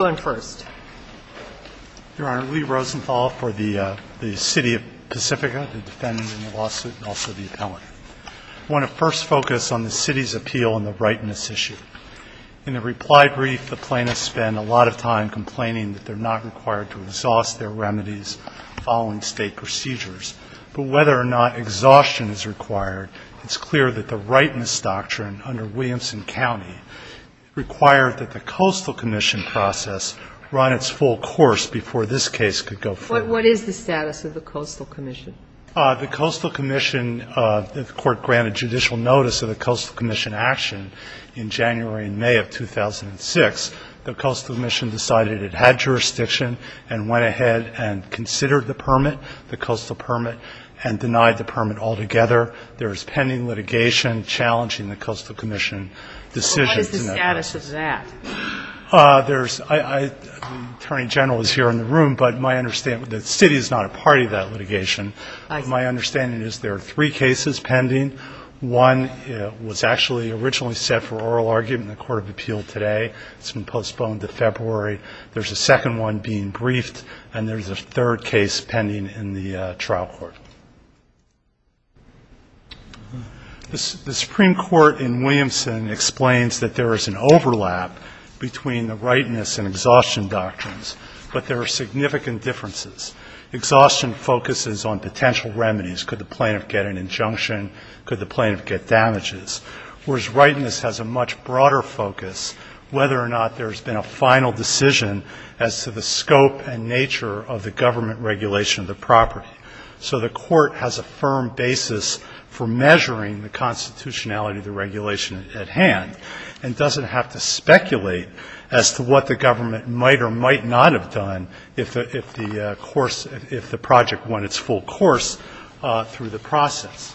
I want to first focus on the city's appeal on the rightness issue. In the reply brief, the plaintiffs spend a lot of time complaining that they're not required to exhaust their remedies following state procedures. But whether or not exhaustion is required, it's clear that the rightness doctrine under Williamson County required that the Coastal Commission process run its full course before this case could go forward. But what is the status of the Coastal Commission? The Coastal Commission, the court granted judicial notice of the Coastal Commission action in January and May of 2006. The Coastal Commission decided it had jurisdiction and went ahead and considered the permit, the Coastal Permit, and denied the permit altogether. There is pending litigation challenging the Coastal Commission decision to not go. So what is the status of that? Attorney General is here in the room, but the city is not a party to that litigation. My understanding is there are three cases pending. One was actually originally set for oral argument in the Court of Appeal today. It's been postponed to February. There's a second one being briefed, and there's a third case pending in the trial court. The Supreme Court in Williamson explains that there is an overlap between the rightness and exhaustion doctrines, but there are significant differences. Exhaustion focuses on potential remedies. Could the plaintiff get an injunction? Could the plaintiff get damages? Whereas rightness has a much broader focus, whether or not there's been a final decision as to the scope and nature of the government regulation of the property. So the Court has a firm basis for measuring the constitutionality of the regulation at hand and doesn't have to speculate as to what the government might or might not have done if the course, if the project went its full course through the process.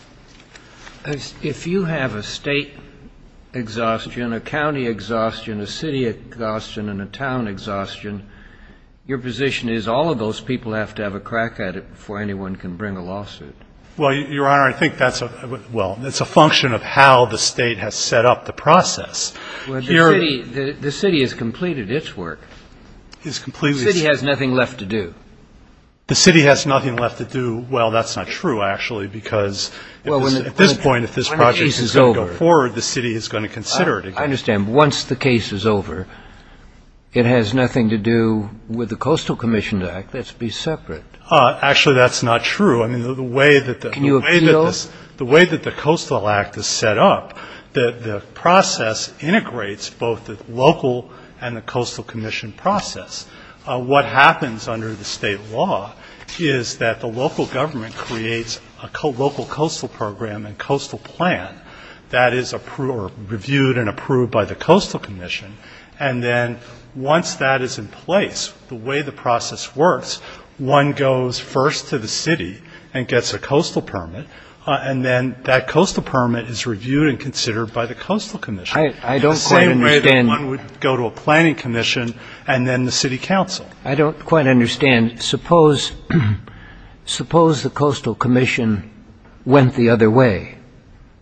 If you have a State exhaustion, a county exhaustion, a city exhaustion, and a town exhaustion, your position is all of those people have to have a crack at it before anyone can bring a lawsuit. Well, Your Honor, I think that's a – well, it's a function of how the State has set up the process. Well, the city – the city has completed its work. It's completely – The city has nothing left to do. The city has nothing left to do. Well, that's not true, actually, because at this point if this project is going to go forward, the city is going to consider it again. I understand. Once the case is over, it has nothing to do with the Coastal Commission Act. That's to be separate. Actually, that's not true. I mean, the way that the – Can you appeal? The way that the Coastal Act is set up, the process integrates both the local and the Coastal Commission process. What happens under the State law is that the local government creates a local coastal program and coastal plan that is reviewed and approved by the Coastal Commission, and then once that is in place, the way the process works, one goes first to the city and gets a coastal permit, and then that coastal permit is reviewed and considered by the Coastal Commission. I don't quite understand. The same way that one would go to a planning commission and then the city council. I don't quite understand. Suppose the Coastal Commission went the other way.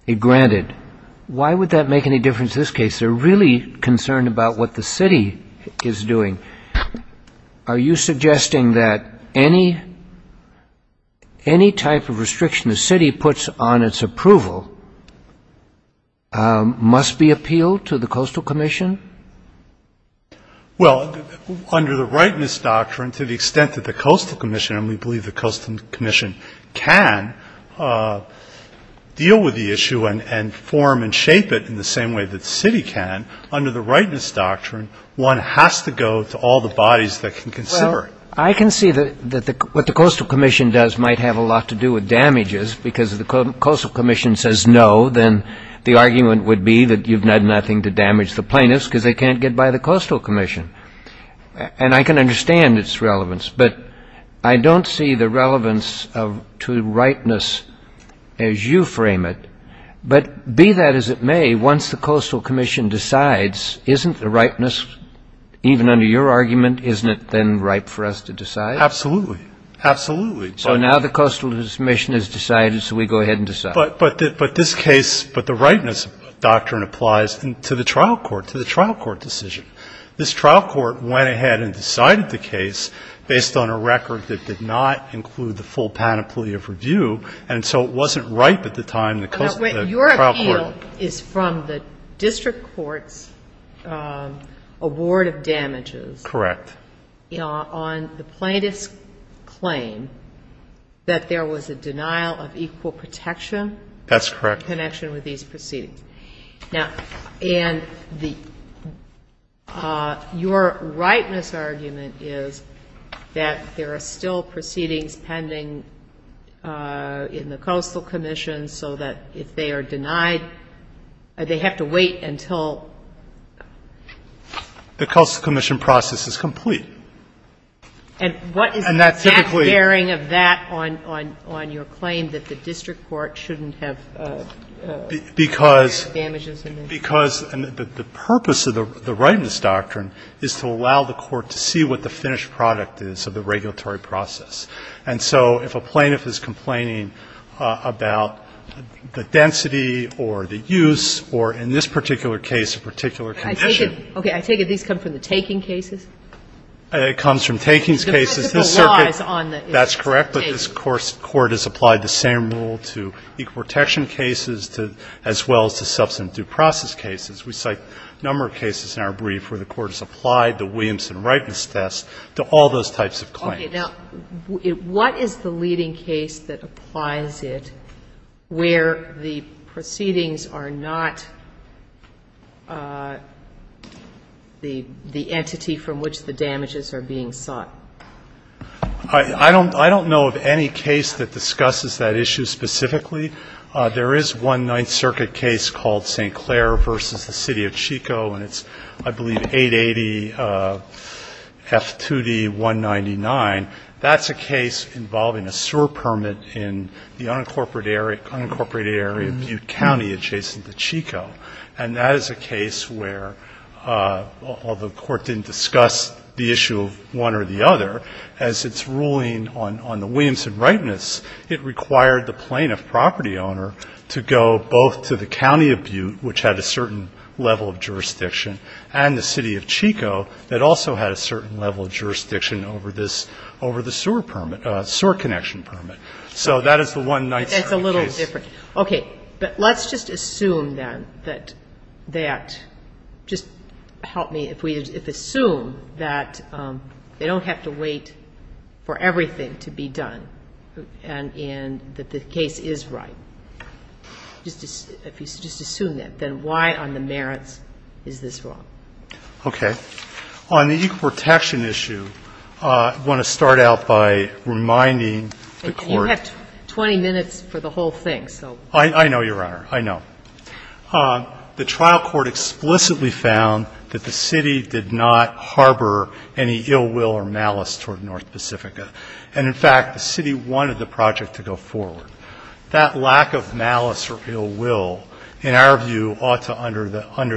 It granted. Why would that make any difference in this case? They're really concerned about what the city is doing. Are you suggesting that any type of restriction the city puts on its approval must be appealed to the Coastal Commission? Well, under the Rightness Doctrine, to the extent that the Coastal Commission, and we believe the Coastal Commission can, deal with the issue and form and shape it in the same way that the city can, under the Rightness Doctrine, one has to go to all the bodies that can consider it. Well, I can see that what the Coastal Commission does might have a lot to do with damages because if the Coastal Commission says no, then the argument would be that you've done nothing to damage the plaintiffs because they can't get by the Coastal Commission. And I can understand its relevance, but I don't see the relevance to rightness as you frame it. But be that as it may, once the Coastal Commission decides, isn't the rightness, even under your argument, isn't it then ripe for us to decide? Absolutely. Absolutely. So now the Coastal Commission has decided, so we go ahead and decide. But this case, but the Rightness Doctrine applies to the trial court, to the trial court decision. This trial court went ahead and decided the case based on a record that did not include the full panoply of review, and so it wasn't ripe at the time the trial court. Your appeal is from the district court's award of damages. Correct. On the plaintiff's claim that there was a denial of equal protection. That's correct. In connection with these proceedings. Now, and the, your rightness argument is that there are still proceedings pending in the Coastal Commission so that if they are denied, they have to wait until the Coastal Commission process is complete. And what is the exact bearing of that on your claim that the district court shouldn't have damages in this? Because the purpose of the Rightness Doctrine is to allow the court to see what the finished product is of the regulatory process. And so if a plaintiff is complaining about the density or the use or in this particular case a particular condition. I take it, okay, I take it these come from the taking cases? It comes from taking cases. The principle law is on the case. That's correct, but this court has applied the same rule to equal protection cases as well as to substantive due process cases. We cite a number of cases in our brief where the court has applied the Williamson Rightness Test to all those types of claims. Okay. Now, what is the leading case that applies it where the proceedings are not the entity from which the damages are being sought? I don't know of any case that discusses that issue specifically. There is one Ninth Circuit case called St. Clair v. the City of Chico, and it's, I believe, 880 F2D 199. That's a case involving a sewer permit in the unincorporated area of Butte County adjacent to Chico. And that is a case where, although the court didn't discuss the issue of one or the other, as its ruling on the Williamson Rightness, it required the plaintiff property owner to go both to the County of Butte, which had a certain level of jurisdiction, and the City of Chico that also had a certain level of jurisdiction over this, over the sewer permit, sewer connection permit. So that is the one Ninth Circuit case. That's a little different. Okay. But let's just assume then that that, just help me, if we assume that they don't have to wait for everything to be done and that the case is right, just assume that, then why on the merits is this wrong? Okay. On the equal protection issue, I want to start out by reminding the Court that the trial court explicitly found that the City did not harbor any ill will or malice toward North Pacifica. And, in fact, the City wanted the project to go forward. That lack of malice or ill will, in our view, ought to, under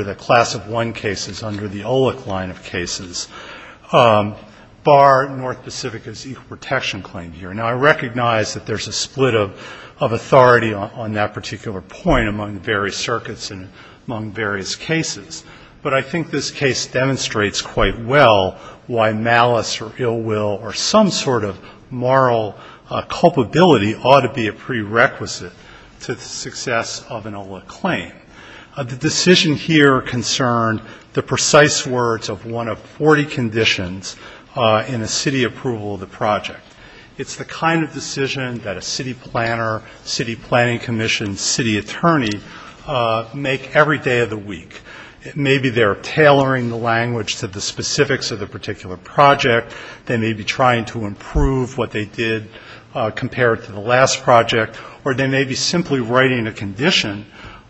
the class of one cases, under the OLEC line of cases, bar North Pacifica's equal protection claim here. Now, I recognize that that's not the case. There's a split of authority on that particular point among the various circuits and among various cases. But I think this case demonstrates quite well why malice or ill will or some sort of moral culpability ought to be a prerequisite to the success of an OLEC claim. The decision here concerned the precise words of one of 40 conditions in the City approval of the project. It's the kind of decision that a City planner, City planning commission, City attorney make every day of the week. Maybe they're tailoring the language to the specifics of the particular project. They may be trying to improve what they did compared to the last project, or they may be simply writing a condition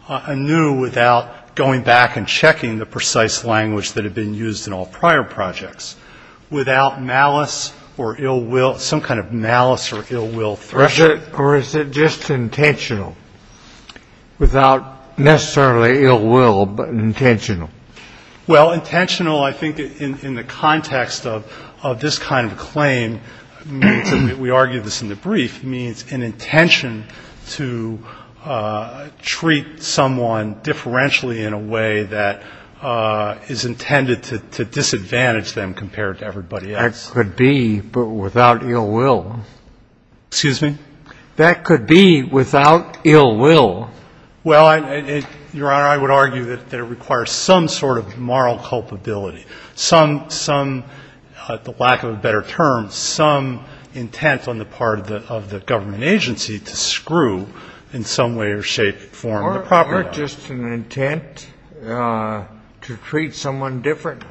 anew without going back and checking the precise language that had been used in all prior projects. Without malice or ill will, some kind of malice or ill will. Or is it just intentional? Without necessarily ill will, but intentional? Well, intentional, I think, in the context of this kind of claim, we argue this in the brief, means an intention to treat someone differentially in a way that is intended to disadvantage them compared to everybody else. That could be without ill will. Excuse me? That could be without ill will. Well, Your Honor, I would argue that it requires some sort of moral culpability, some, the lack of a better term, some intent on the part of the government agency to screw in some way or shape, form, or property. Or just an intent to treat someone differently.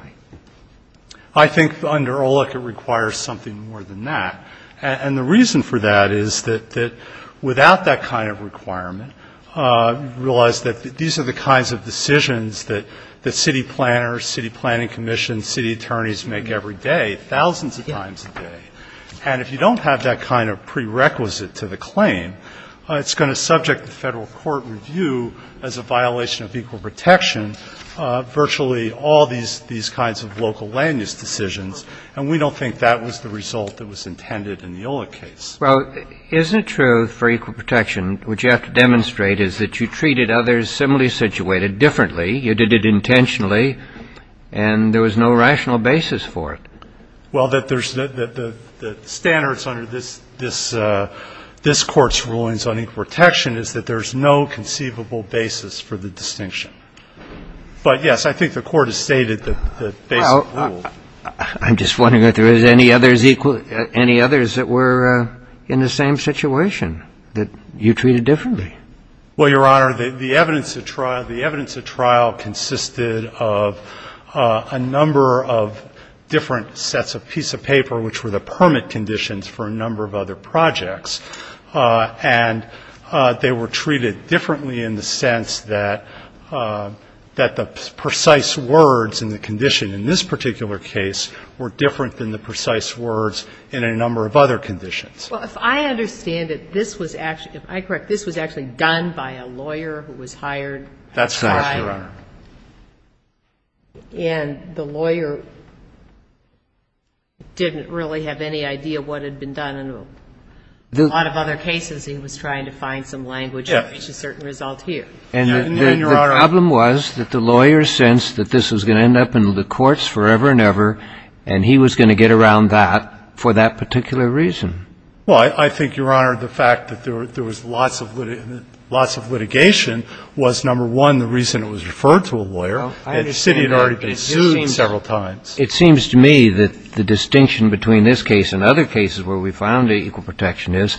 I think under OLEC it requires something more than that. And the reason for that is that without that kind of requirement, you realize that these are the kinds of decisions that city planners, city planning commissions, city attorneys make every day, thousands of times a day. And if you don't have that kind of prerequisite to the claim, it's going to subject the federal court review as a violation of equal protection virtually all these kinds of local land use decisions. And we don't think that was the result that was intended in the OLEC case. Well, isn't it true for equal protection, which you have to demonstrate is that you treated others similarly situated differently, you did it intentionally, and there was no rational basis for it? Well, that there's the standards under this Court's rulings on equal protection is that there's no conceivable basis for the distinction. But, yes, I think the Court has stated the basic rule. I'm just wondering if there is any others that were in the same situation, that you treated differently. Well, Your Honor, the evidence at trial consisted of a number of different sets of piece of paper, which were the permit conditions for a number of other projects, and they were treated differently in the sense that the precise words in the condition in this particular case were different than the precise words in a number of other conditions. Well, if I understand it, this was actually, if I correct, this was actually done by a lawyer who was hired prior. That's correct, Your Honor. And the lawyer didn't really have any idea what had been done in a lot of other cases. He was trying to find some language to reach a certain result here. And the problem was that the lawyer sensed that this was going to end up in the courts forever and ever, and he was going to get around that for that particular reason. Well, I think, Your Honor, the fact that there was lots of litigation was, number one, the reason it was referred to a lawyer, and the city had already been sued several times. It seems to me that the distinction between this case and other cases where we found equal protection is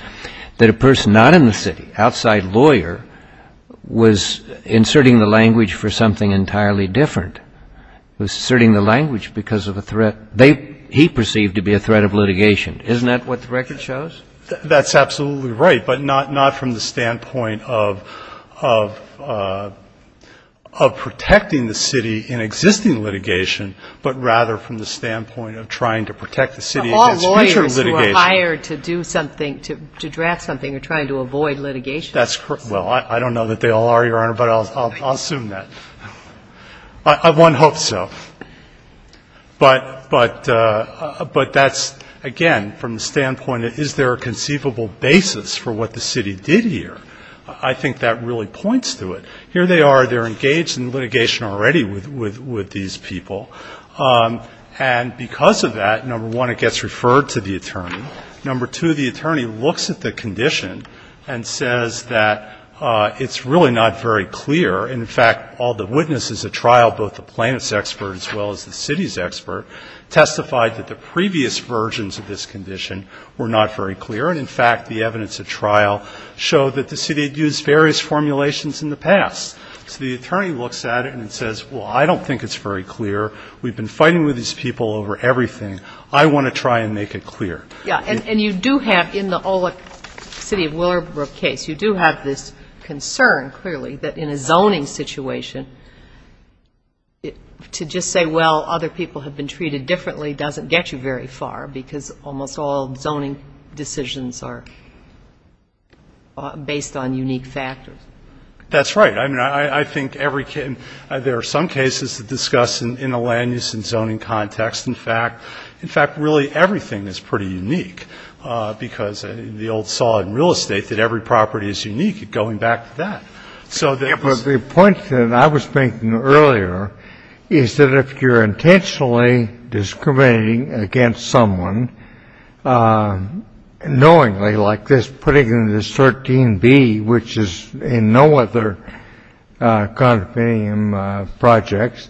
that a person not in the city, outside lawyer, was inserting the language for something entirely different. He was inserting the language because of a threat. He perceived to be a threat of litigation. Isn't that what the record shows? That's absolutely right, but not from the standpoint of protecting the city in existing litigation, but rather from the standpoint of trying to protect the city against future litigation. But all lawyers who are hired to do something, to draft something, are trying to avoid litigation. That's correct. Well, I don't know that they all are, Your Honor, but I'll assume that. One hopes so. But that's, again, from the standpoint of is there a conceivable basis for what the city did here? I think that really points to it. Here they are. They're engaged in litigation already with these people, and because of that, number one, it gets referred to the attorney. Number two, the attorney looks at the condition and says that it's really not very clear. And, in fact, all the witnesses at trial, both the plaintiff's expert as well as the city's expert, testified that the previous versions of this condition were not very clear. And, in fact, the evidence at trial showed that the city had used various formulations in the past. So the attorney looks at it and says, well, I don't think it's very clear. We've been fighting with these people over everything. I want to try and make it clear. Yeah. And you do have, in the Olick City of Willowbrook case, you do have this concern clearly that in a zoning situation, to just say, well, other people have been treated differently doesn't get you very far because almost all zoning decisions are based on unique factors. That's right. I mean, I think there are some cases to discuss in a land use and zoning context. In fact, really everything is pretty unique because the old saw in real estate that every property is unique, going back to that. But the point that I was making earlier is that if you're intentionally discriminating against someone knowingly, like this, putting in this 13B, which is in no other condominium projects,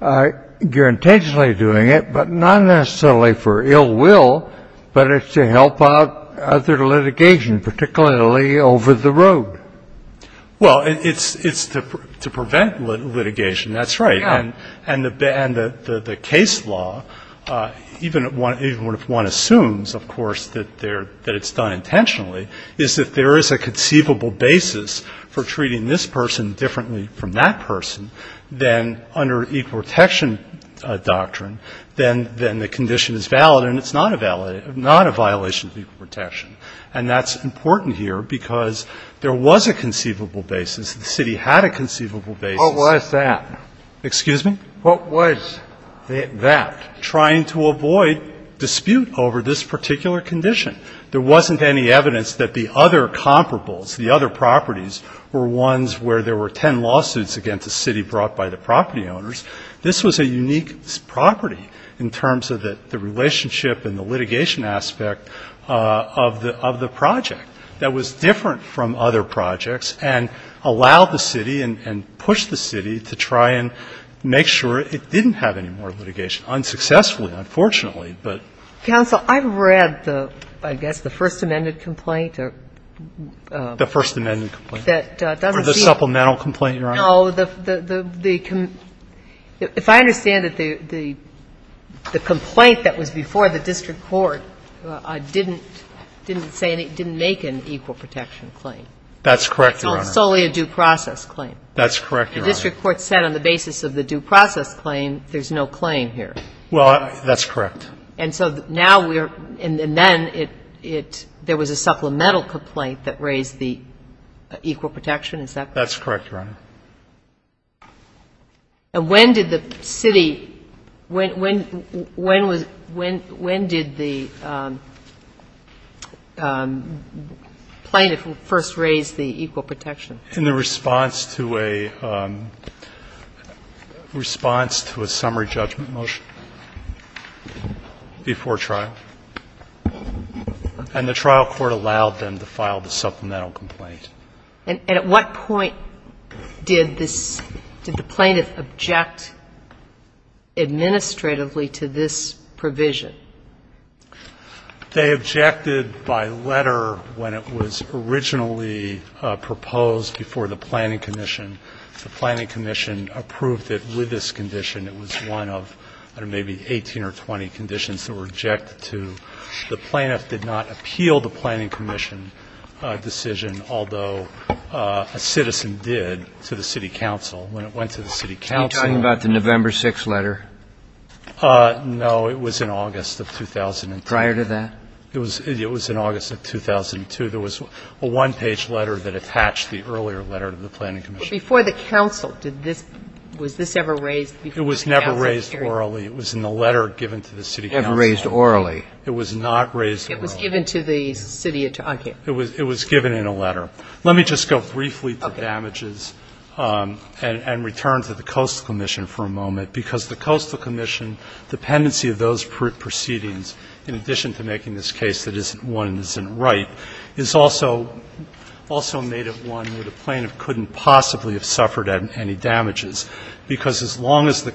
you're intentionally doing it, but not necessarily for ill will, but it's to help out other litigation, particularly over the road. Well, it's to prevent litigation. That's right. And the case law, even if one assumes, of course, that it's done intentionally, is that there is a conceivable basis for treating this person differently from that violation of equal protection. And that's important here because there was a conceivable basis. The city had a conceivable basis. What was that? Excuse me? What was that? Trying to avoid dispute over this particular condition. There wasn't any evidence that the other comparables, the other properties were ones where there were ten lawsuits against the city brought by the property owners. This was a unique property in terms of the relationship and the litigation aspect of the project that was different from other projects and allowed the city and pushed the city to try and make sure it didn't have any more litigation, unsuccessfully, unfortunately. Counsel, I've read, I guess, the First Amendment complaint. Or the supplemental complaint, Your Honor. No. If I understand it, the complaint that was before the district court didn't make an equal protection claim. That's correct, Your Honor. So it's solely a due process claim. That's correct, Your Honor. The district court said on the basis of the due process claim, there's no claim here. Well, that's correct. And so now we're, and then it, there was a supplemental complaint that raised the equal protection. Is that correct? That's correct, Your Honor. And when did the city, when did the plaintiff first raise the equal protection? In the response to a summary judgment motion before trial. And the trial court allowed them to file the supplemental complaint. And at what point did this, did the plaintiff object administratively to this provision? They objected by letter when it was originally proposed before the planning commission. The planning commission approved it with this condition. It was one of, I don't know, maybe 18 or 20 conditions that were objected to. The plaintiff did not appeal the planning commission decision, although a citizen did, to the city council. When it went to the city council. Are you talking about the November 6th letter? No. It was in August of 2003. Prior to that? It was in August of 2002. There was a one-page letter that attached the earlier letter to the planning commission. But before the council, did this, was this ever raised before the council? It was never raised orally. It was in the letter given to the city council. It was never raised orally. It was not raised orally. It was given to the city attorney. It was given in a letter. Let me just go briefly to damages and return to the coastal commission for a moment, because the coastal commission, dependency of those proceedings, in addition to making this case that isn't one that isn't right, is also made of one where the plaintiff couldn't possibly have suffered any damages, because as long as the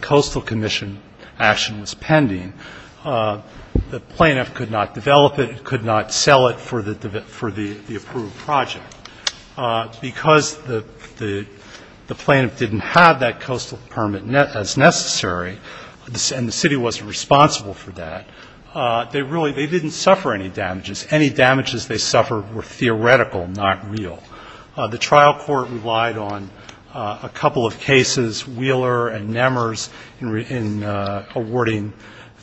plaintiff could not develop it, could not sell it for the approved project. Because the plaintiff didn't have that coastal permit as necessary, and the city wasn't responsible for that, they really, they didn't suffer any damages. Any damages they suffered were theoretical, not real. The trial court relied on a couple of cases, Wheeler and Nemers, in awarding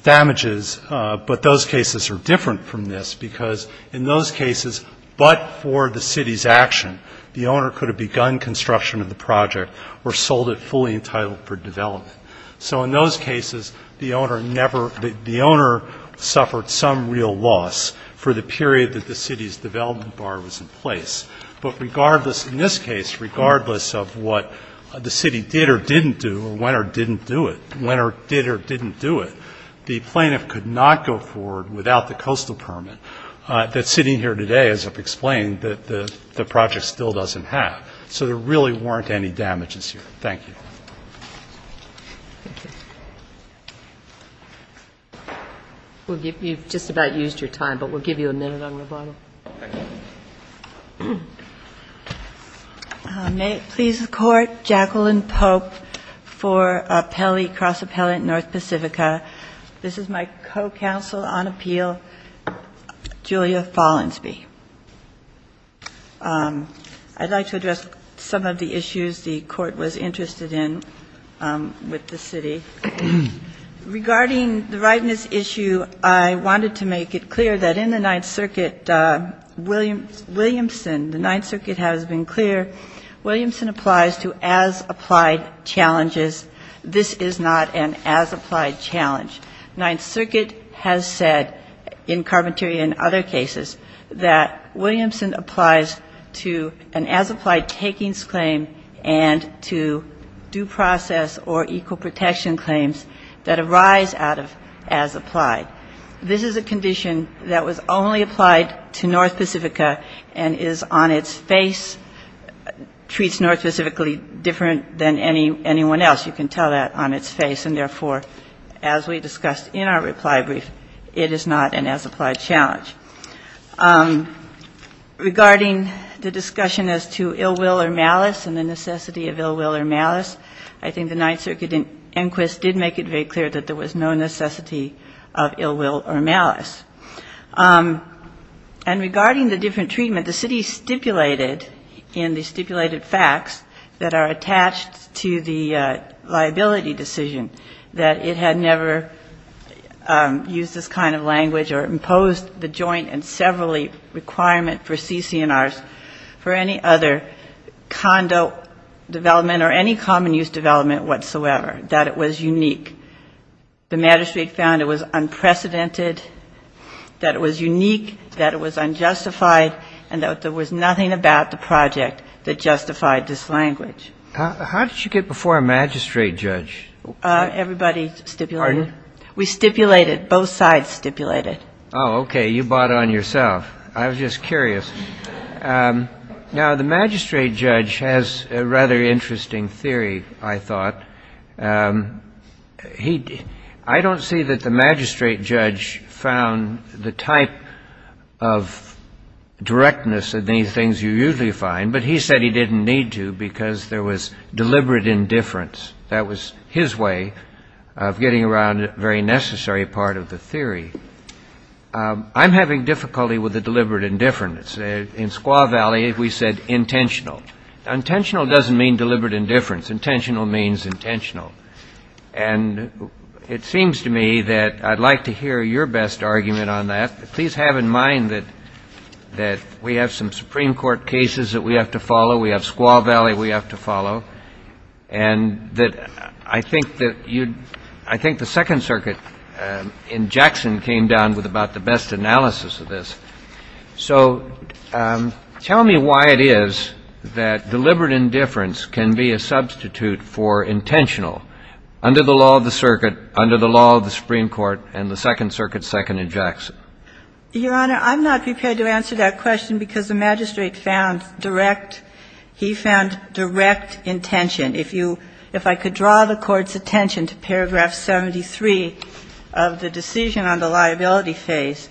damages, but those cases are different from this, because in those cases, but for the city's action, the owner could have begun construction of the project or sold it fully entitled for development. So in those cases, the owner never, the owner suffered some real loss for the period that the city's development bar was in place. But regardless, in this case, regardless of what the city did or didn't do or went or didn't do it, went or did or didn't do it, the plaintiff could not go forward without the coastal permit that's sitting here today, as I've explained, that the project still doesn't have. So there really weren't any damages here. Thank you. We'll give you, you've just about used your time, but we'll give you a minute on rebuttal. May it please the Court. Jacqueline Pope for Pelley Cross Appellant North Pacifica. This is my co-counsel on appeal, Julia Follinsby. I'd like to address some of the issues the Court was interested in with the city. Regarding the rightness issue, I wanted to make it clear that in the Ninth Circuit that Williamson, the Ninth Circuit has been clear, Williamson applies to as-applied challenges. This is not an as-applied challenge. Ninth Circuit has said in Carpentaria and other cases that Williamson applies to an as-applied takings claim and to due process or equal protection claims that arise out of as-applied. This is a condition that was only applied to North Pacifica and is on its face, treats North Pacifica different than anyone else. You can tell that on its face, and therefore, as we discussed in our reply brief, it is not an as-applied challenge. Regarding the discussion as to ill will or malice and the necessity of ill will or malice, and regarding the different treatment, the city stipulated in the stipulated facts that are attached to the liability decision that it had never used this kind of language or imposed the joint and severally requirement for CC&Rs for any other condo development or any common use development whatsoever, that it was unique. The magistrate found it was unprecedented, that it was unique, that it was unjustified, and that there was nothing about the project that justified this language. How did you get before a magistrate judge? Everybody stipulated. Pardon? We stipulated. Both sides stipulated. Oh, okay, you bought on yourself. I was just curious. Now, the magistrate judge has a rather interesting theory, I thought. I don't see that the magistrate judge found the type of directness of these things you usually find, but he said he didn't need to because there was deliberate indifference. That was his way of getting around a very necessary part of the theory. I'm having difficulty with the deliberate indifference. In Squaw Valley, we said intentional. Intentional doesn't mean deliberate indifference. Intentional means intentional. And it seems to me that I'd like to hear your best argument on that. Please have in mind that we have some Supreme Court cases that we have to follow. We have Squaw Valley we have to follow. I think the Second Circuit in Jackson came down with about the best analysis of this. So tell me why it is that deliberate indifference can be a substitute for intentional. Under the law of the circuit, under the law of the Supreme Court, and the Second Circuit, Second in Jackson. Your Honor, I'm not prepared to answer that question because the magistrate found direct – he found direct intention. If you – if I could draw the Court's attention to paragraph 73 of the decision on the liability phase,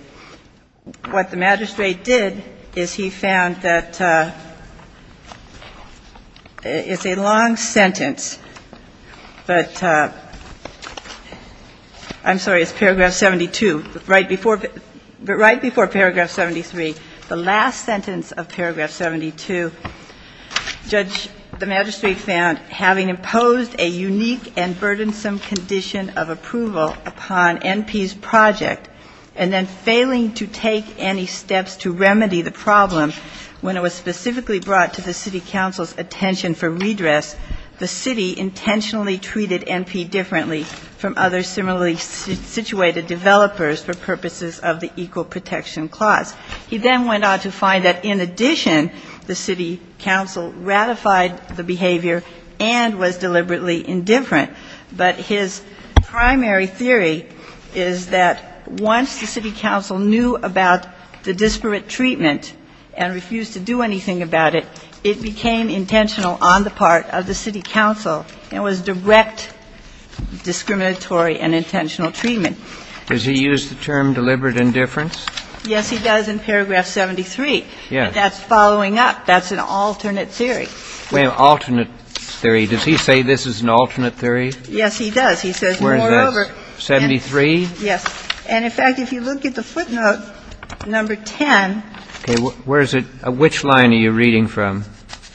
what the magistrate did is he found that it's a long sentence, but it's a long sentence. But I'm sorry, it's paragraph 72. Right before paragraph 73, the last sentence of paragraph 72, the magistrate found, having imposed a unique and burdensome condition of approval upon NP's project, and then failing to take any steps to remedy the problem when it was specifically brought to the City Council's attention for redress, the City intentionally treated NP differently from other similarly situated developers for purposes of the Equal Protection Clause. He then went on to find that, in addition, the City Council ratified the behavior and was deliberately indifferent. But his primary theory is that once the City Council knew about the disparate treatment and refused to do anything about it, it became intentional on the part of the City Council, and it was direct discriminatory and intentional treatment. Does he use the term deliberate indifference? Yes, he does in paragraph 73. Yes. But that's following up. That's an alternate theory. Alternate theory. Does he say this is an alternate theory? Yes, he does. Where is that? 73? Yes. And, in fact, if you look at the footnote, number 10. Which line are you reading from?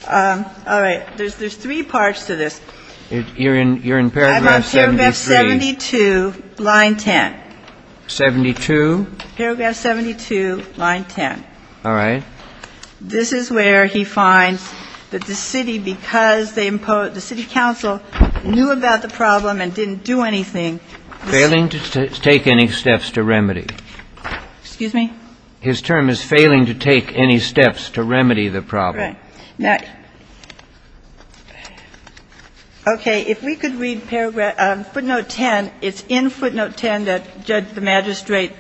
All right. There's three parts to this. You're in paragraph 73. I'm on paragraph 72, line 10. 72? Paragraph 72, line 10. All right. This is where he finds that the City, because the City Council knew about the problem and didn't do anything. Failing to take any steps to remedy. Excuse me? His term is failing to take any steps to remedy the problem. All right. Now, okay, if we could read footnote 10. It's in footnote 10 that Judge the Magistrate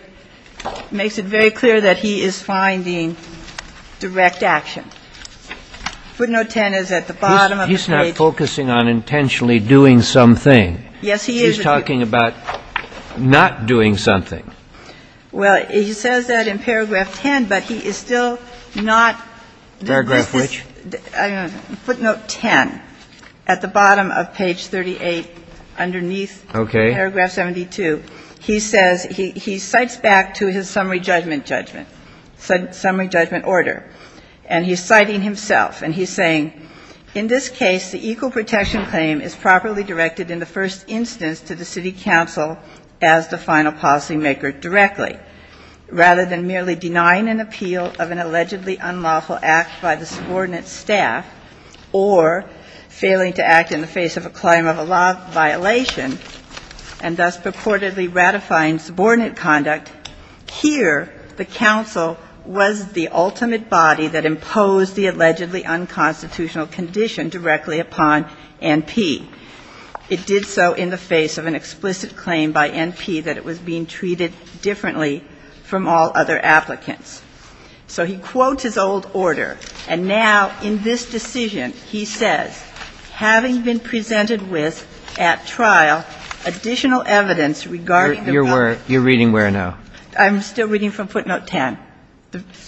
makes it very clear that he is finding direct action. Footnote 10 is at the bottom of the page. He's not focusing on intentionally doing something. Yes, he is. He's talking about not doing something. Well, he says that in paragraph 10, but he is still not. Paragraph which? Footnote 10 at the bottom of page 38, underneath. Okay. Paragraph 72. He says he cites back to his summary judgment judgment, summary judgment order. And he's citing himself. And he's saying, In this case, the equal protection claim is properly directed in the first instance to the City Council as the final policymaker directly. Rather than merely denying an appeal of an allegedly unlawful act by the subordinate staff or failing to act in the face of a claim of a law violation and thus purportedly ratifying subordinate conduct, here the council was the ultimate body that imposed the allegedly unconstitutional condition directly upon N.P. It did so in the face of an explicit claim by N.P. that it was being treated differently from all other applicants. So he quotes his old order. And now in this decision, he says, Having been presented with at trial additional evidence regarding the. You're reading where now? I'm still reading from footnote 10,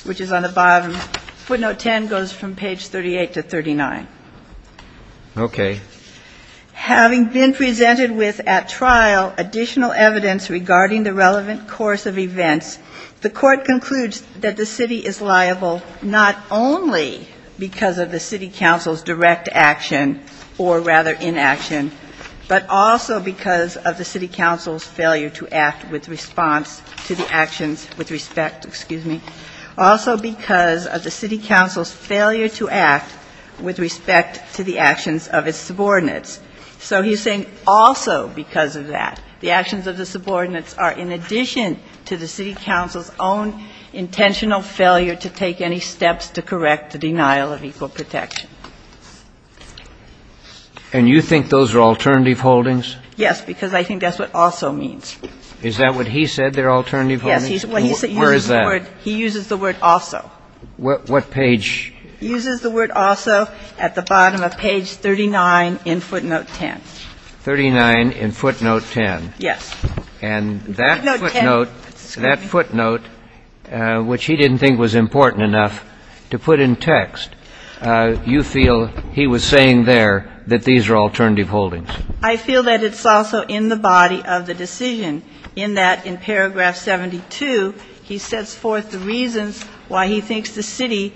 which is on the bottom. Footnote 10 goes from page 38 to 39. Okay. Having been presented with at trial additional evidence regarding the relevant course of events, the court concludes that the City is liable not only because of the City Council's direct action or rather inaction, but also because of the City Council's failure to act with response to the actions with respect. Excuse me. Also because of the City Council's failure to act with respect to the actions of its subordinates. So he's saying also because of that, the actions of the subordinates are in addition to the City Council's own intentional failure to take any steps to correct the denial of equal protection. And you think those are alternative holdings? Yes, because I think that's what also means. Is that what he said, they're alternative holdings? Yes. Where is that? He uses the word also. What page? He uses the word also at the bottom of page 39 in footnote 10. 39 in footnote 10. Yes. And that footnote, that footnote, which he didn't think was important enough to put in text, you feel he was saying there that these are alternative holdings. I feel that it's also in the body of the decision in that in paragraph 72, he sets forth the reasons why he thinks the city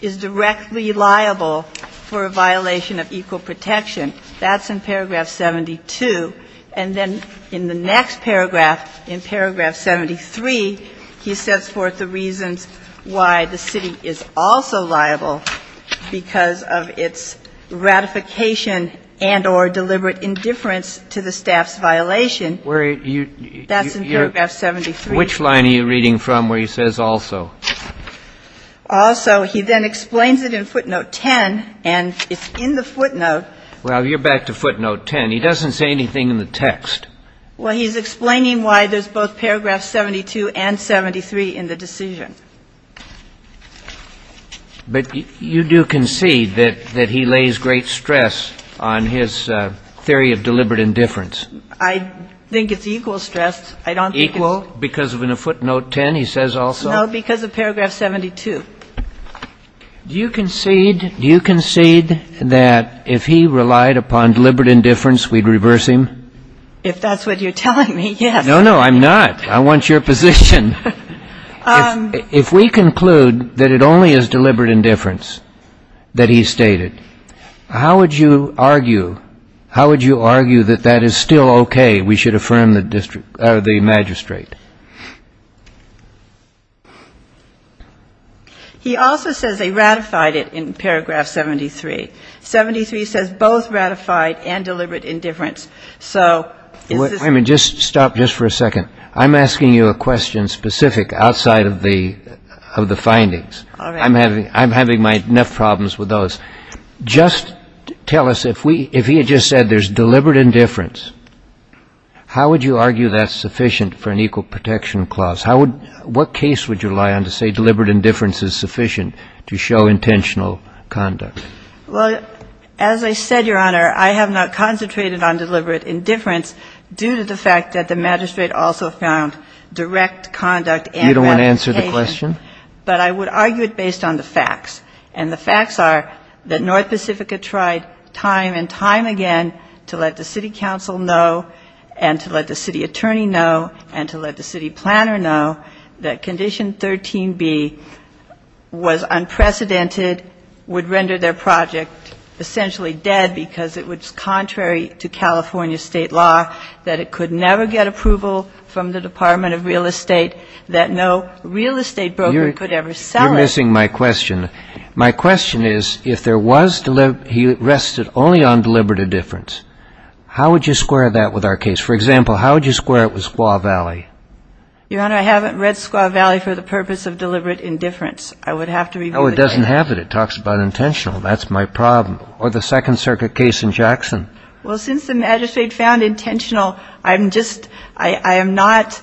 is directly liable for a violation of equal protection. That's in paragraph 72. And then in the next paragraph, in paragraph 73, he sets forth the reasons why the city is also liable because of its ratification and or deliberate indifference to the staff's violation. That's in paragraph 73. Which line are you reading from where he says also? Also. He then explains it in footnote 10, and it's in the footnote. Well, you're back to footnote 10. He doesn't say anything in the text. Well, he's explaining why there's both paragraph 72 and 73 in the decision. But you do concede that he lays great stress on his theory of deliberate indifference? I think it's equal stress. I don't think it's equal. Because of footnote 10, he says also? No, because of paragraph 72. Do you concede that if he relied upon deliberate indifference, we'd reverse him? If that's what you're telling me, yes. No, no, I'm not. I want your position. If we conclude that it only is deliberate indifference that he stated, how would you argue that that is still okay, we should affirm the magistrate? He also says they ratified it in paragraph 73. 73 says both ratified and deliberate indifference. So is this? Wait a minute. Just stop just for a second. I'm asking you a question specific outside of the findings. I'm having enough problems with those. Just tell us, if he had just said there's deliberate indifference, how would you argue that's sufficient for an equal protection clause? What case would you rely on to say deliberate indifference is sufficient to show intentional conduct? Well, as I said, Your Honor, I have not concentrated on deliberate indifference due to the fact that the magistrate also found direct conduct and ratification. You don't want to answer the question? But I would argue it based on the facts. And the facts are that North Pacifica tried time and time again to let the city council know and to let the city attorney know and to let the city planner know that Condition 13b was unprecedented, would render their project essentially dead because it was contrary to California state law, that it could never get approval from the Department of Real Estate, that no real estate broker could ever sell it. You're missing my question. My question is, if there was he rested only on deliberate indifference, how would you square that with our case? For example, how would you square it with Squaw Valley? Your Honor, I haven't read Squaw Valley for the purpose of deliberate indifference. I would have to review the case. No, it doesn't have it. It talks about intentional. That's my problem. Or the Second Circuit case in Jackson. Well, since the magistrate found intentional, I'm just, I am not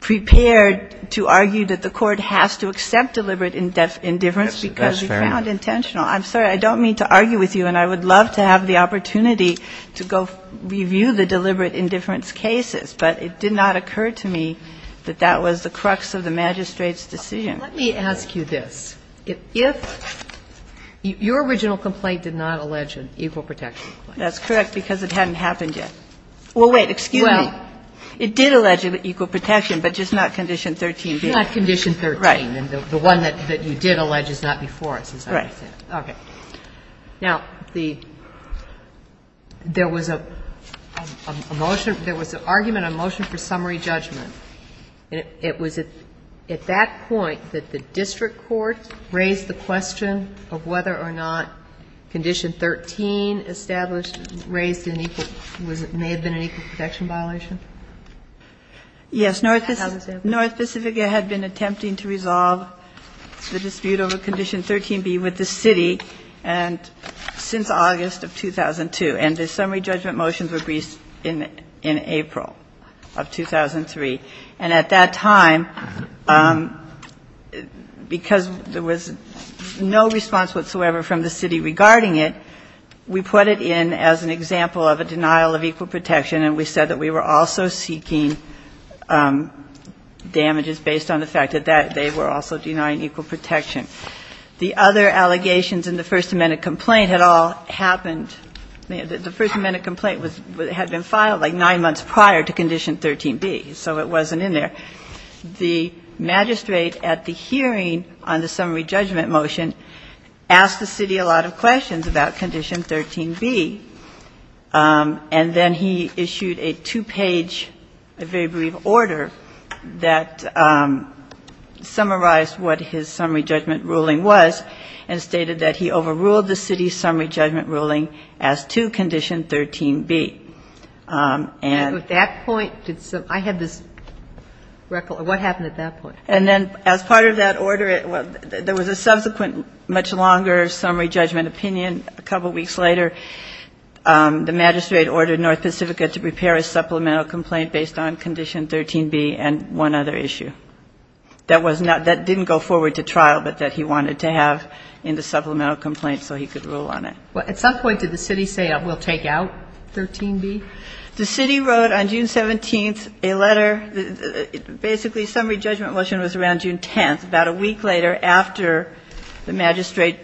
prepared to argue that the Court has to accept deliberate indifference because he found intentional. That's fair enough. I'm sorry. I don't mean to argue with you, and I would love to have the opportunity to go review the deliberate indifference cases, but it did not occur to me that that was the crux of the magistrate's decision. Let me ask you this. If your original complaint did not allege an equal protection complaint. That's correct, because it hadn't happened yet. Well, wait. Excuse me. It did allege equal protection, but just not Condition 13b. Not Condition 13. Right. And the one that you did allege is not before us, is that what you're saying? Right. Okay. Now, the, there was a motion, there was an argument, a motion for summary judgment. It was at that point that the district court raised the question of whether or not Condition 13 established raised an equal, may have been an equal protection violation? Yes. North Pacific had been attempting to resolve the dispute over Condition 13b with the city and since August of 2002. And the summary judgment motions were released in April of 2003. And at that time, because there was no response whatsoever from the city regarding it, we put it in as an example of a denial of equal protection, and we said that we were also seeking damages based on the fact that they were also denying equal protection. The other allegations in the First Amendment complaint had all happened, the First Amendment complaint had been filed like nine months prior to Condition 13b, so it wasn't in there. The magistrate at the hearing on the summary judgment motion asked the city a lot of questions about Condition 13b, and then he issued a two-page, a very brief order that summarized what his summary judgment ruling was and stated that he overruled the city's summary judgment ruling as to Condition 13b. And at that point, I had this record. What happened at that point? And then as part of that order, there was a subsequent much longer summary judgment opinion a couple weeks later. The magistrate ordered North Pacifica to prepare a supplemental complaint based on Condition 13b and one other issue that was not, that didn't go forward to trial but that he wanted to have in the supplemental complaint so he could rule on it. Well, at some point did the city say we'll take out 13b? The city wrote on June 17th a letter, basically summary judgment motion was around June 10th, about a week later after the magistrate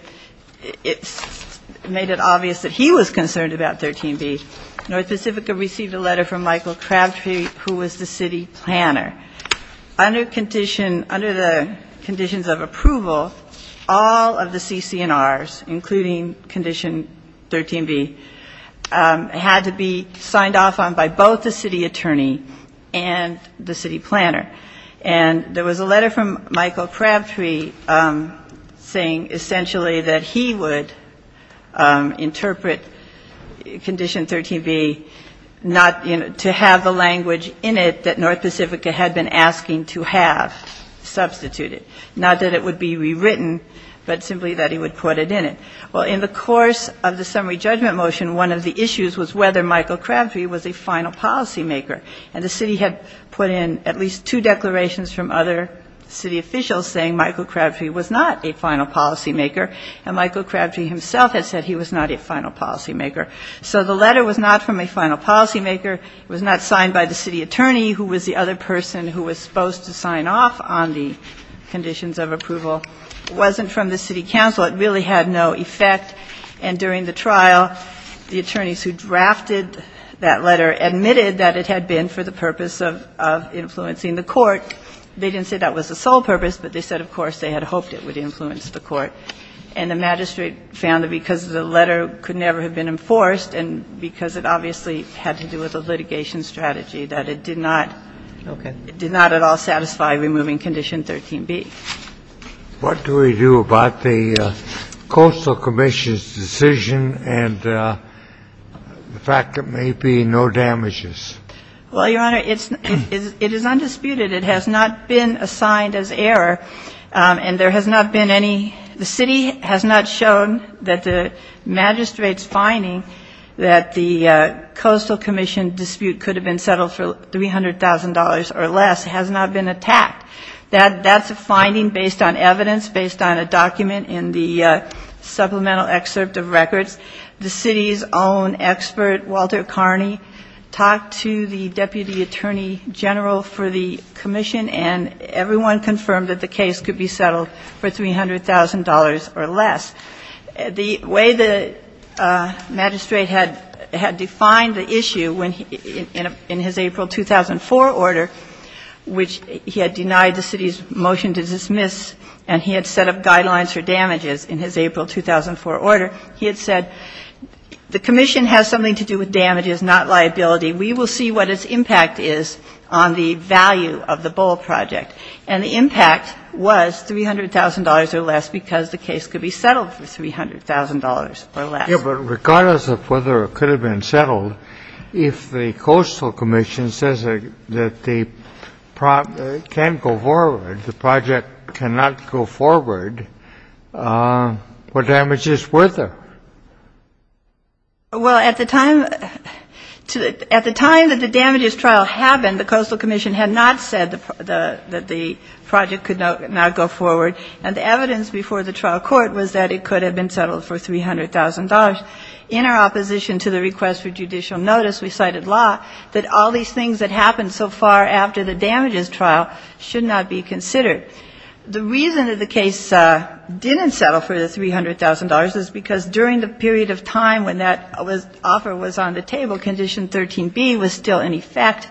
made it obvious that he was concerned about 13b. North Pacifica received a letter from Michael Crabtree, who was the city planner. Under condition, under the conditions of approval, all of the CC&Rs, including Condition 13b, had to be signed off on by both the city attorney and the city planner. And there was a letter from Michael Crabtree saying essentially that he would interpret Condition 13b not, you know, to have the language in it that North Pacifica had been asking to have substituted. Not that it would be rewritten, but simply that he would put it in it. Well, in the course of the summary judgment motion, one of the issues was whether Michael Crabtree was a final policymaker. And the city had put in at least two declarations from other city officials saying Michael Crabtree was not a final policymaker, and Michael Crabtree himself had said he was not a final policymaker. So the letter was not from a final policymaker. It was not signed by the city attorney, who was the other person who was supposed to sign off on the conditions of approval. It wasn't from the city council. It really had no effect. And during the trial, the attorneys who drafted that letter admitted that it had been for the purpose of influencing the court. They didn't say that was the sole purpose, but they said, of course, they had hoped it would influence the court. And the magistrate found that because the letter could never have been enforced and because it obviously had to do with a litigation strategy, that it did not at all satisfy removing Condition 13b. What do we do about the Coastal Commission's decision and the fact it may be no damages? Well, Your Honor, it is undisputed. It has not been assigned as error. And there has not been any, the city has not shown that the magistrate's finding that the Coastal Commission dispute could have been settled for $300,000 or less has not been attacked. That's a finding based on evidence, based on a document in the supplemental excerpt of records. The city's own expert, Walter Carney, talked to the deputy attorney general for the commission, and everyone confirmed that the case could be settled for $300,000 or less. The way the magistrate had defined the issue in his April 2004 order, which he had denied the city's motion to dismiss and he had set up guidelines for damages in his April 2004 order, he had said, the commission has something to do with damages, not liability. We will see what its impact is on the value of the bowl project. And the impact was $300,000 or less because the case could be settled for $300,000 or less. Yeah, but regardless of whether it could have been settled, if the Coastal Commission says that the project can't go forward, the project cannot go forward, what damage is worth it? Well, at the time that the damages trial happened, the Coastal Commission had not said that the project could not go forward, and the evidence before the trial court was that it could have been settled for $300,000. In our opposition to the request for judicial notice, we cited law that all these things that happened so far after the damages trial should not be considered. The reason that the case didn't settle for the $300,000 is because during the period of time when that offer was on the table, Condition 13b was still in effect,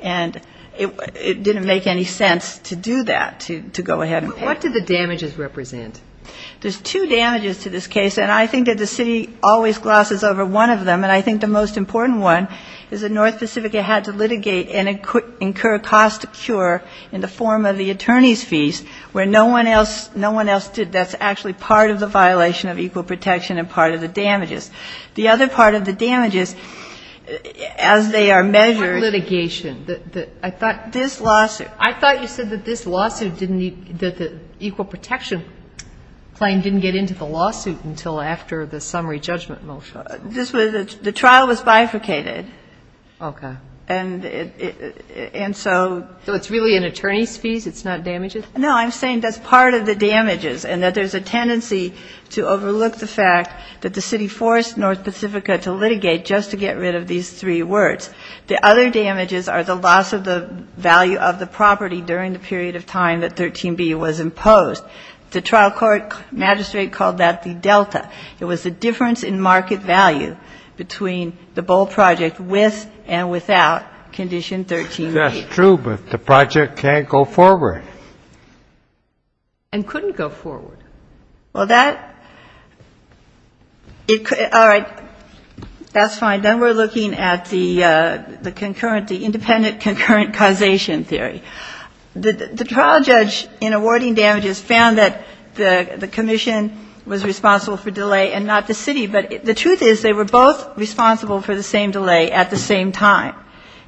and it didn't make any sense to do that, to go ahead and pay. But what did the damages represent? There's two damages to this case, and I think that the city always glosses over one of them, and I think the most important one is that North Pacifica had to litigate and incur a cost of cure in the form of the attorney's fees, where no one else did. And that's actually part of the violation of equal protection and part of the damages. The other part of the damages, as they are measured ---- But what litigation? I thought ---- This lawsuit. I thought you said that this lawsuit didn't need the equal protection claim didn't get into the lawsuit until after the summary judgment motion. This was the trial was bifurcated. Okay. And so ---- So it's really an attorney's fees, it's not damages? No, I'm saying that's part of the damages and that there's a tendency to overlook the fact that the city forced North Pacifica to litigate just to get rid of these three words. The other damages are the loss of the value of the property during the period of time that 13b was imposed. The trial court magistrate called that the delta. It was the difference in market value between the Boal project with and without Condition 13b. That's true, but the project can't go forward. And couldn't go forward. Well, that ---- All right. That's fine. Then we're looking at the concurrent, the independent concurrent causation theory. The trial judge in awarding damages found that the commission was responsible for delay and not the city, but the truth is they were both responsible for the same delay at the same time.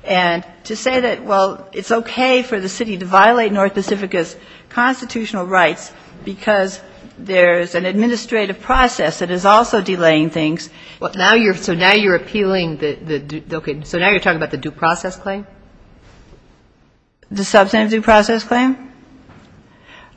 And to say that, well, it's okay for the city to violate North Pacifica's constitutional rights because there's an administrative process that is also delaying things. So now you're appealing the ---- Okay. So now you're talking about the due process claim? The substantive due process claim?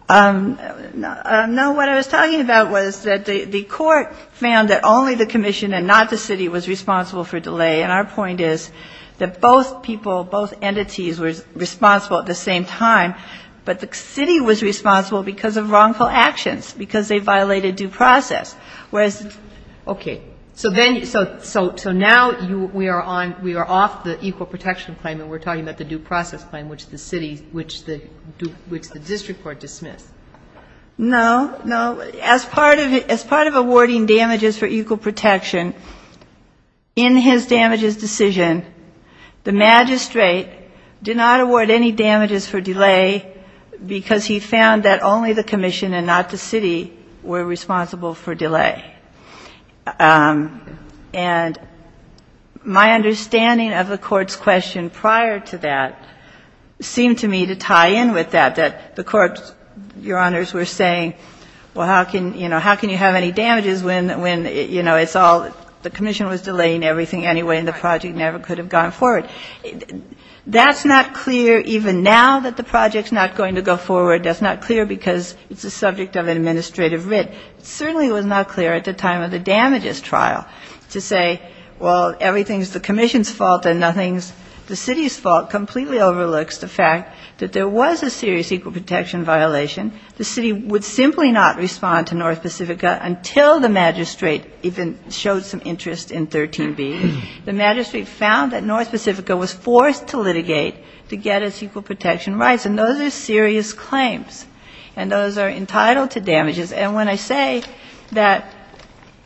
No, what I was talking about was that the court found that only the commission and not the city was responsible for delay. And our point is that both people, both entities were responsible at the same time, but the city was responsible because of wrongful actions, because they violated due process. Whereas ---- Okay. So then you ---- So now we are on, we are off the equal protection claim and we're talking about the due process claim, which the city, which the district court dismissed. No. No. As part of awarding damages for equal protection, in his damages decision, the magistrate did not award any damages for delay because he found that only the commission and not the city were responsible for delay. And my understanding of the court's question prior to that seemed to me to tie in with that, that the court, Your Honors, were saying, well, how can, you know, how can you have any damages when, you know, it's all, the commission was delaying everything anyway and the project never could have gone forward. That's not clear even now that the project's not going to go forward. That's not clear because it's a subject of an administrative writ. It certainly was not clear at the time of the damages trial to say, well, everything is the commission's fault and nothing's the city's fault, completely overlooks the fact that there was a serious equal protection violation. The city would simply not respond to North Pacifica until the magistrate even showed some interest in 13B. The magistrate found that North Pacifica was forced to litigate to get its equal protection rights. And those are serious claims. And those are entitled to damages. And when I say that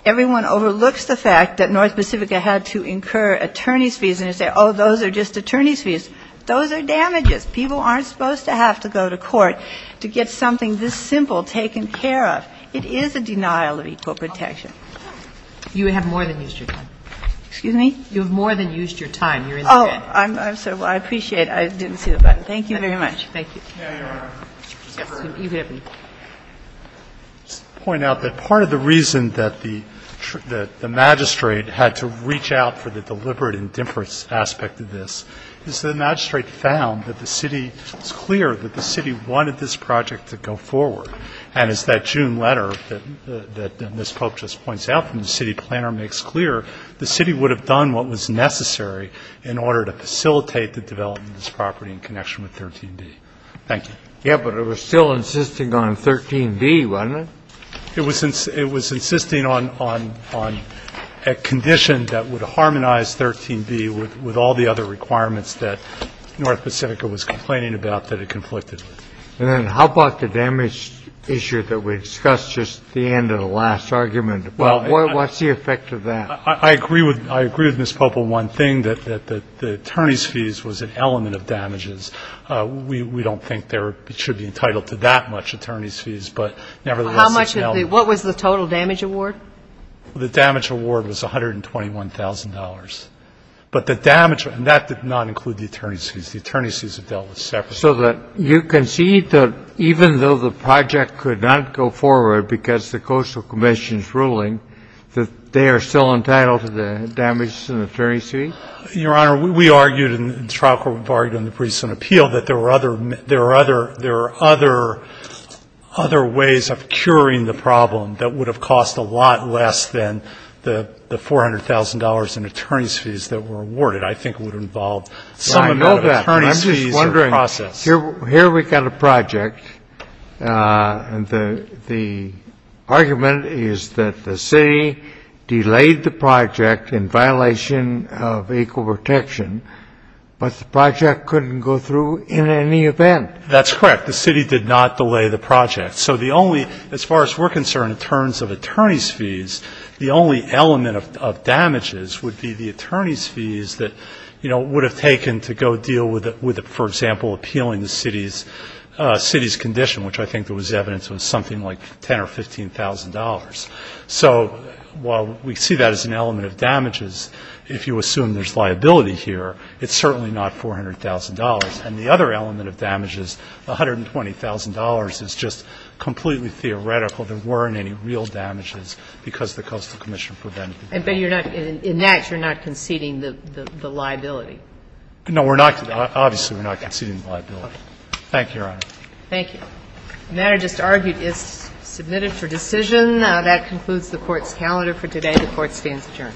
everyone overlooks the fact that North Pacifica had to incur attorneys' fees and they say, oh, those are just attorneys' fees, those are damages. People aren't supposed to have to go to court to get something this simple taken care of. It is a denial of equal protection. Kagan. You have more than used your time. Excuse me? You have more than used your time. You're in the game. Oh, I'm sorry. Well, I appreciate it. I didn't see the button. Thank you very much. Thank you. Now Your Honor. Yes, you can hit me. Just to point out that part of the reason that the magistrate had to reach out for the deliberate indifference aspect of this is the magistrate found that the city was clear that the city wanted this project to go forward. And it's that June letter that Ms. Pope just points out from the city planner makes clear the city would have done what was necessary in order to facilitate the development of this property in connection with 13B. Thank you. Yeah, but it was still insisting on 13B, wasn't it? It was insisting on a condition that would harmonize 13B with all the other requirements that North Pacifica was complaining about that it conflicted with. And then how about the damage issue that we discussed just at the end of the last argument? What's the effect of that? I agree with Ms. Pope on one thing, that the attorneys' fees was an element of damages. We don't think they should be entitled to that much attorneys' fees, but nevertheless it's an element. What was the total damage award? The damage award was $121,000. But the damage, and that did not include the attorneys' fees. The attorneys' fees are dealt with separately. So you concede that even though the project could not go forward because the Coastal Commission's ruling, that they are still entitled to the damages and attorneys' fees? Your Honor, we argued in the trial court, we've argued in the briefs and appeal that there were other, there are other, there are other, other ways of curing the problem that would have cost a lot less than the $400,000 in attorneys' fees that were awarded. I think it would involve some amount of attorneys' fees in the process. I know that. Here we've got a project. The argument is that the city delayed the project in violation of equal protection, but the project couldn't go through in any event. That's correct. The city did not delay the project. So the only, as far as we're concerned, in terms of attorneys' fees, the only element of damages would be the attorneys' fees that, you know, would have taken to go deal with, for example, appealing the city's condition, which I think there was evidence of something like $10,000 or $15,000. So while we see that as an element of damages, if you assume there's liability here, it's certainly not $400,000. And the other element of damages, $120,000, is just completely theoretical. There weren't any real damages because the Coastal Commission prevented it. But you're not, in that you're not conceding the liability. No, we're not. Obviously, we're not conceding the liability. Thank you, Your Honor. Thank you. The matter just argued is submitted for decision. That concludes the Court's calendar for today. The Court stands adjourned. All rise.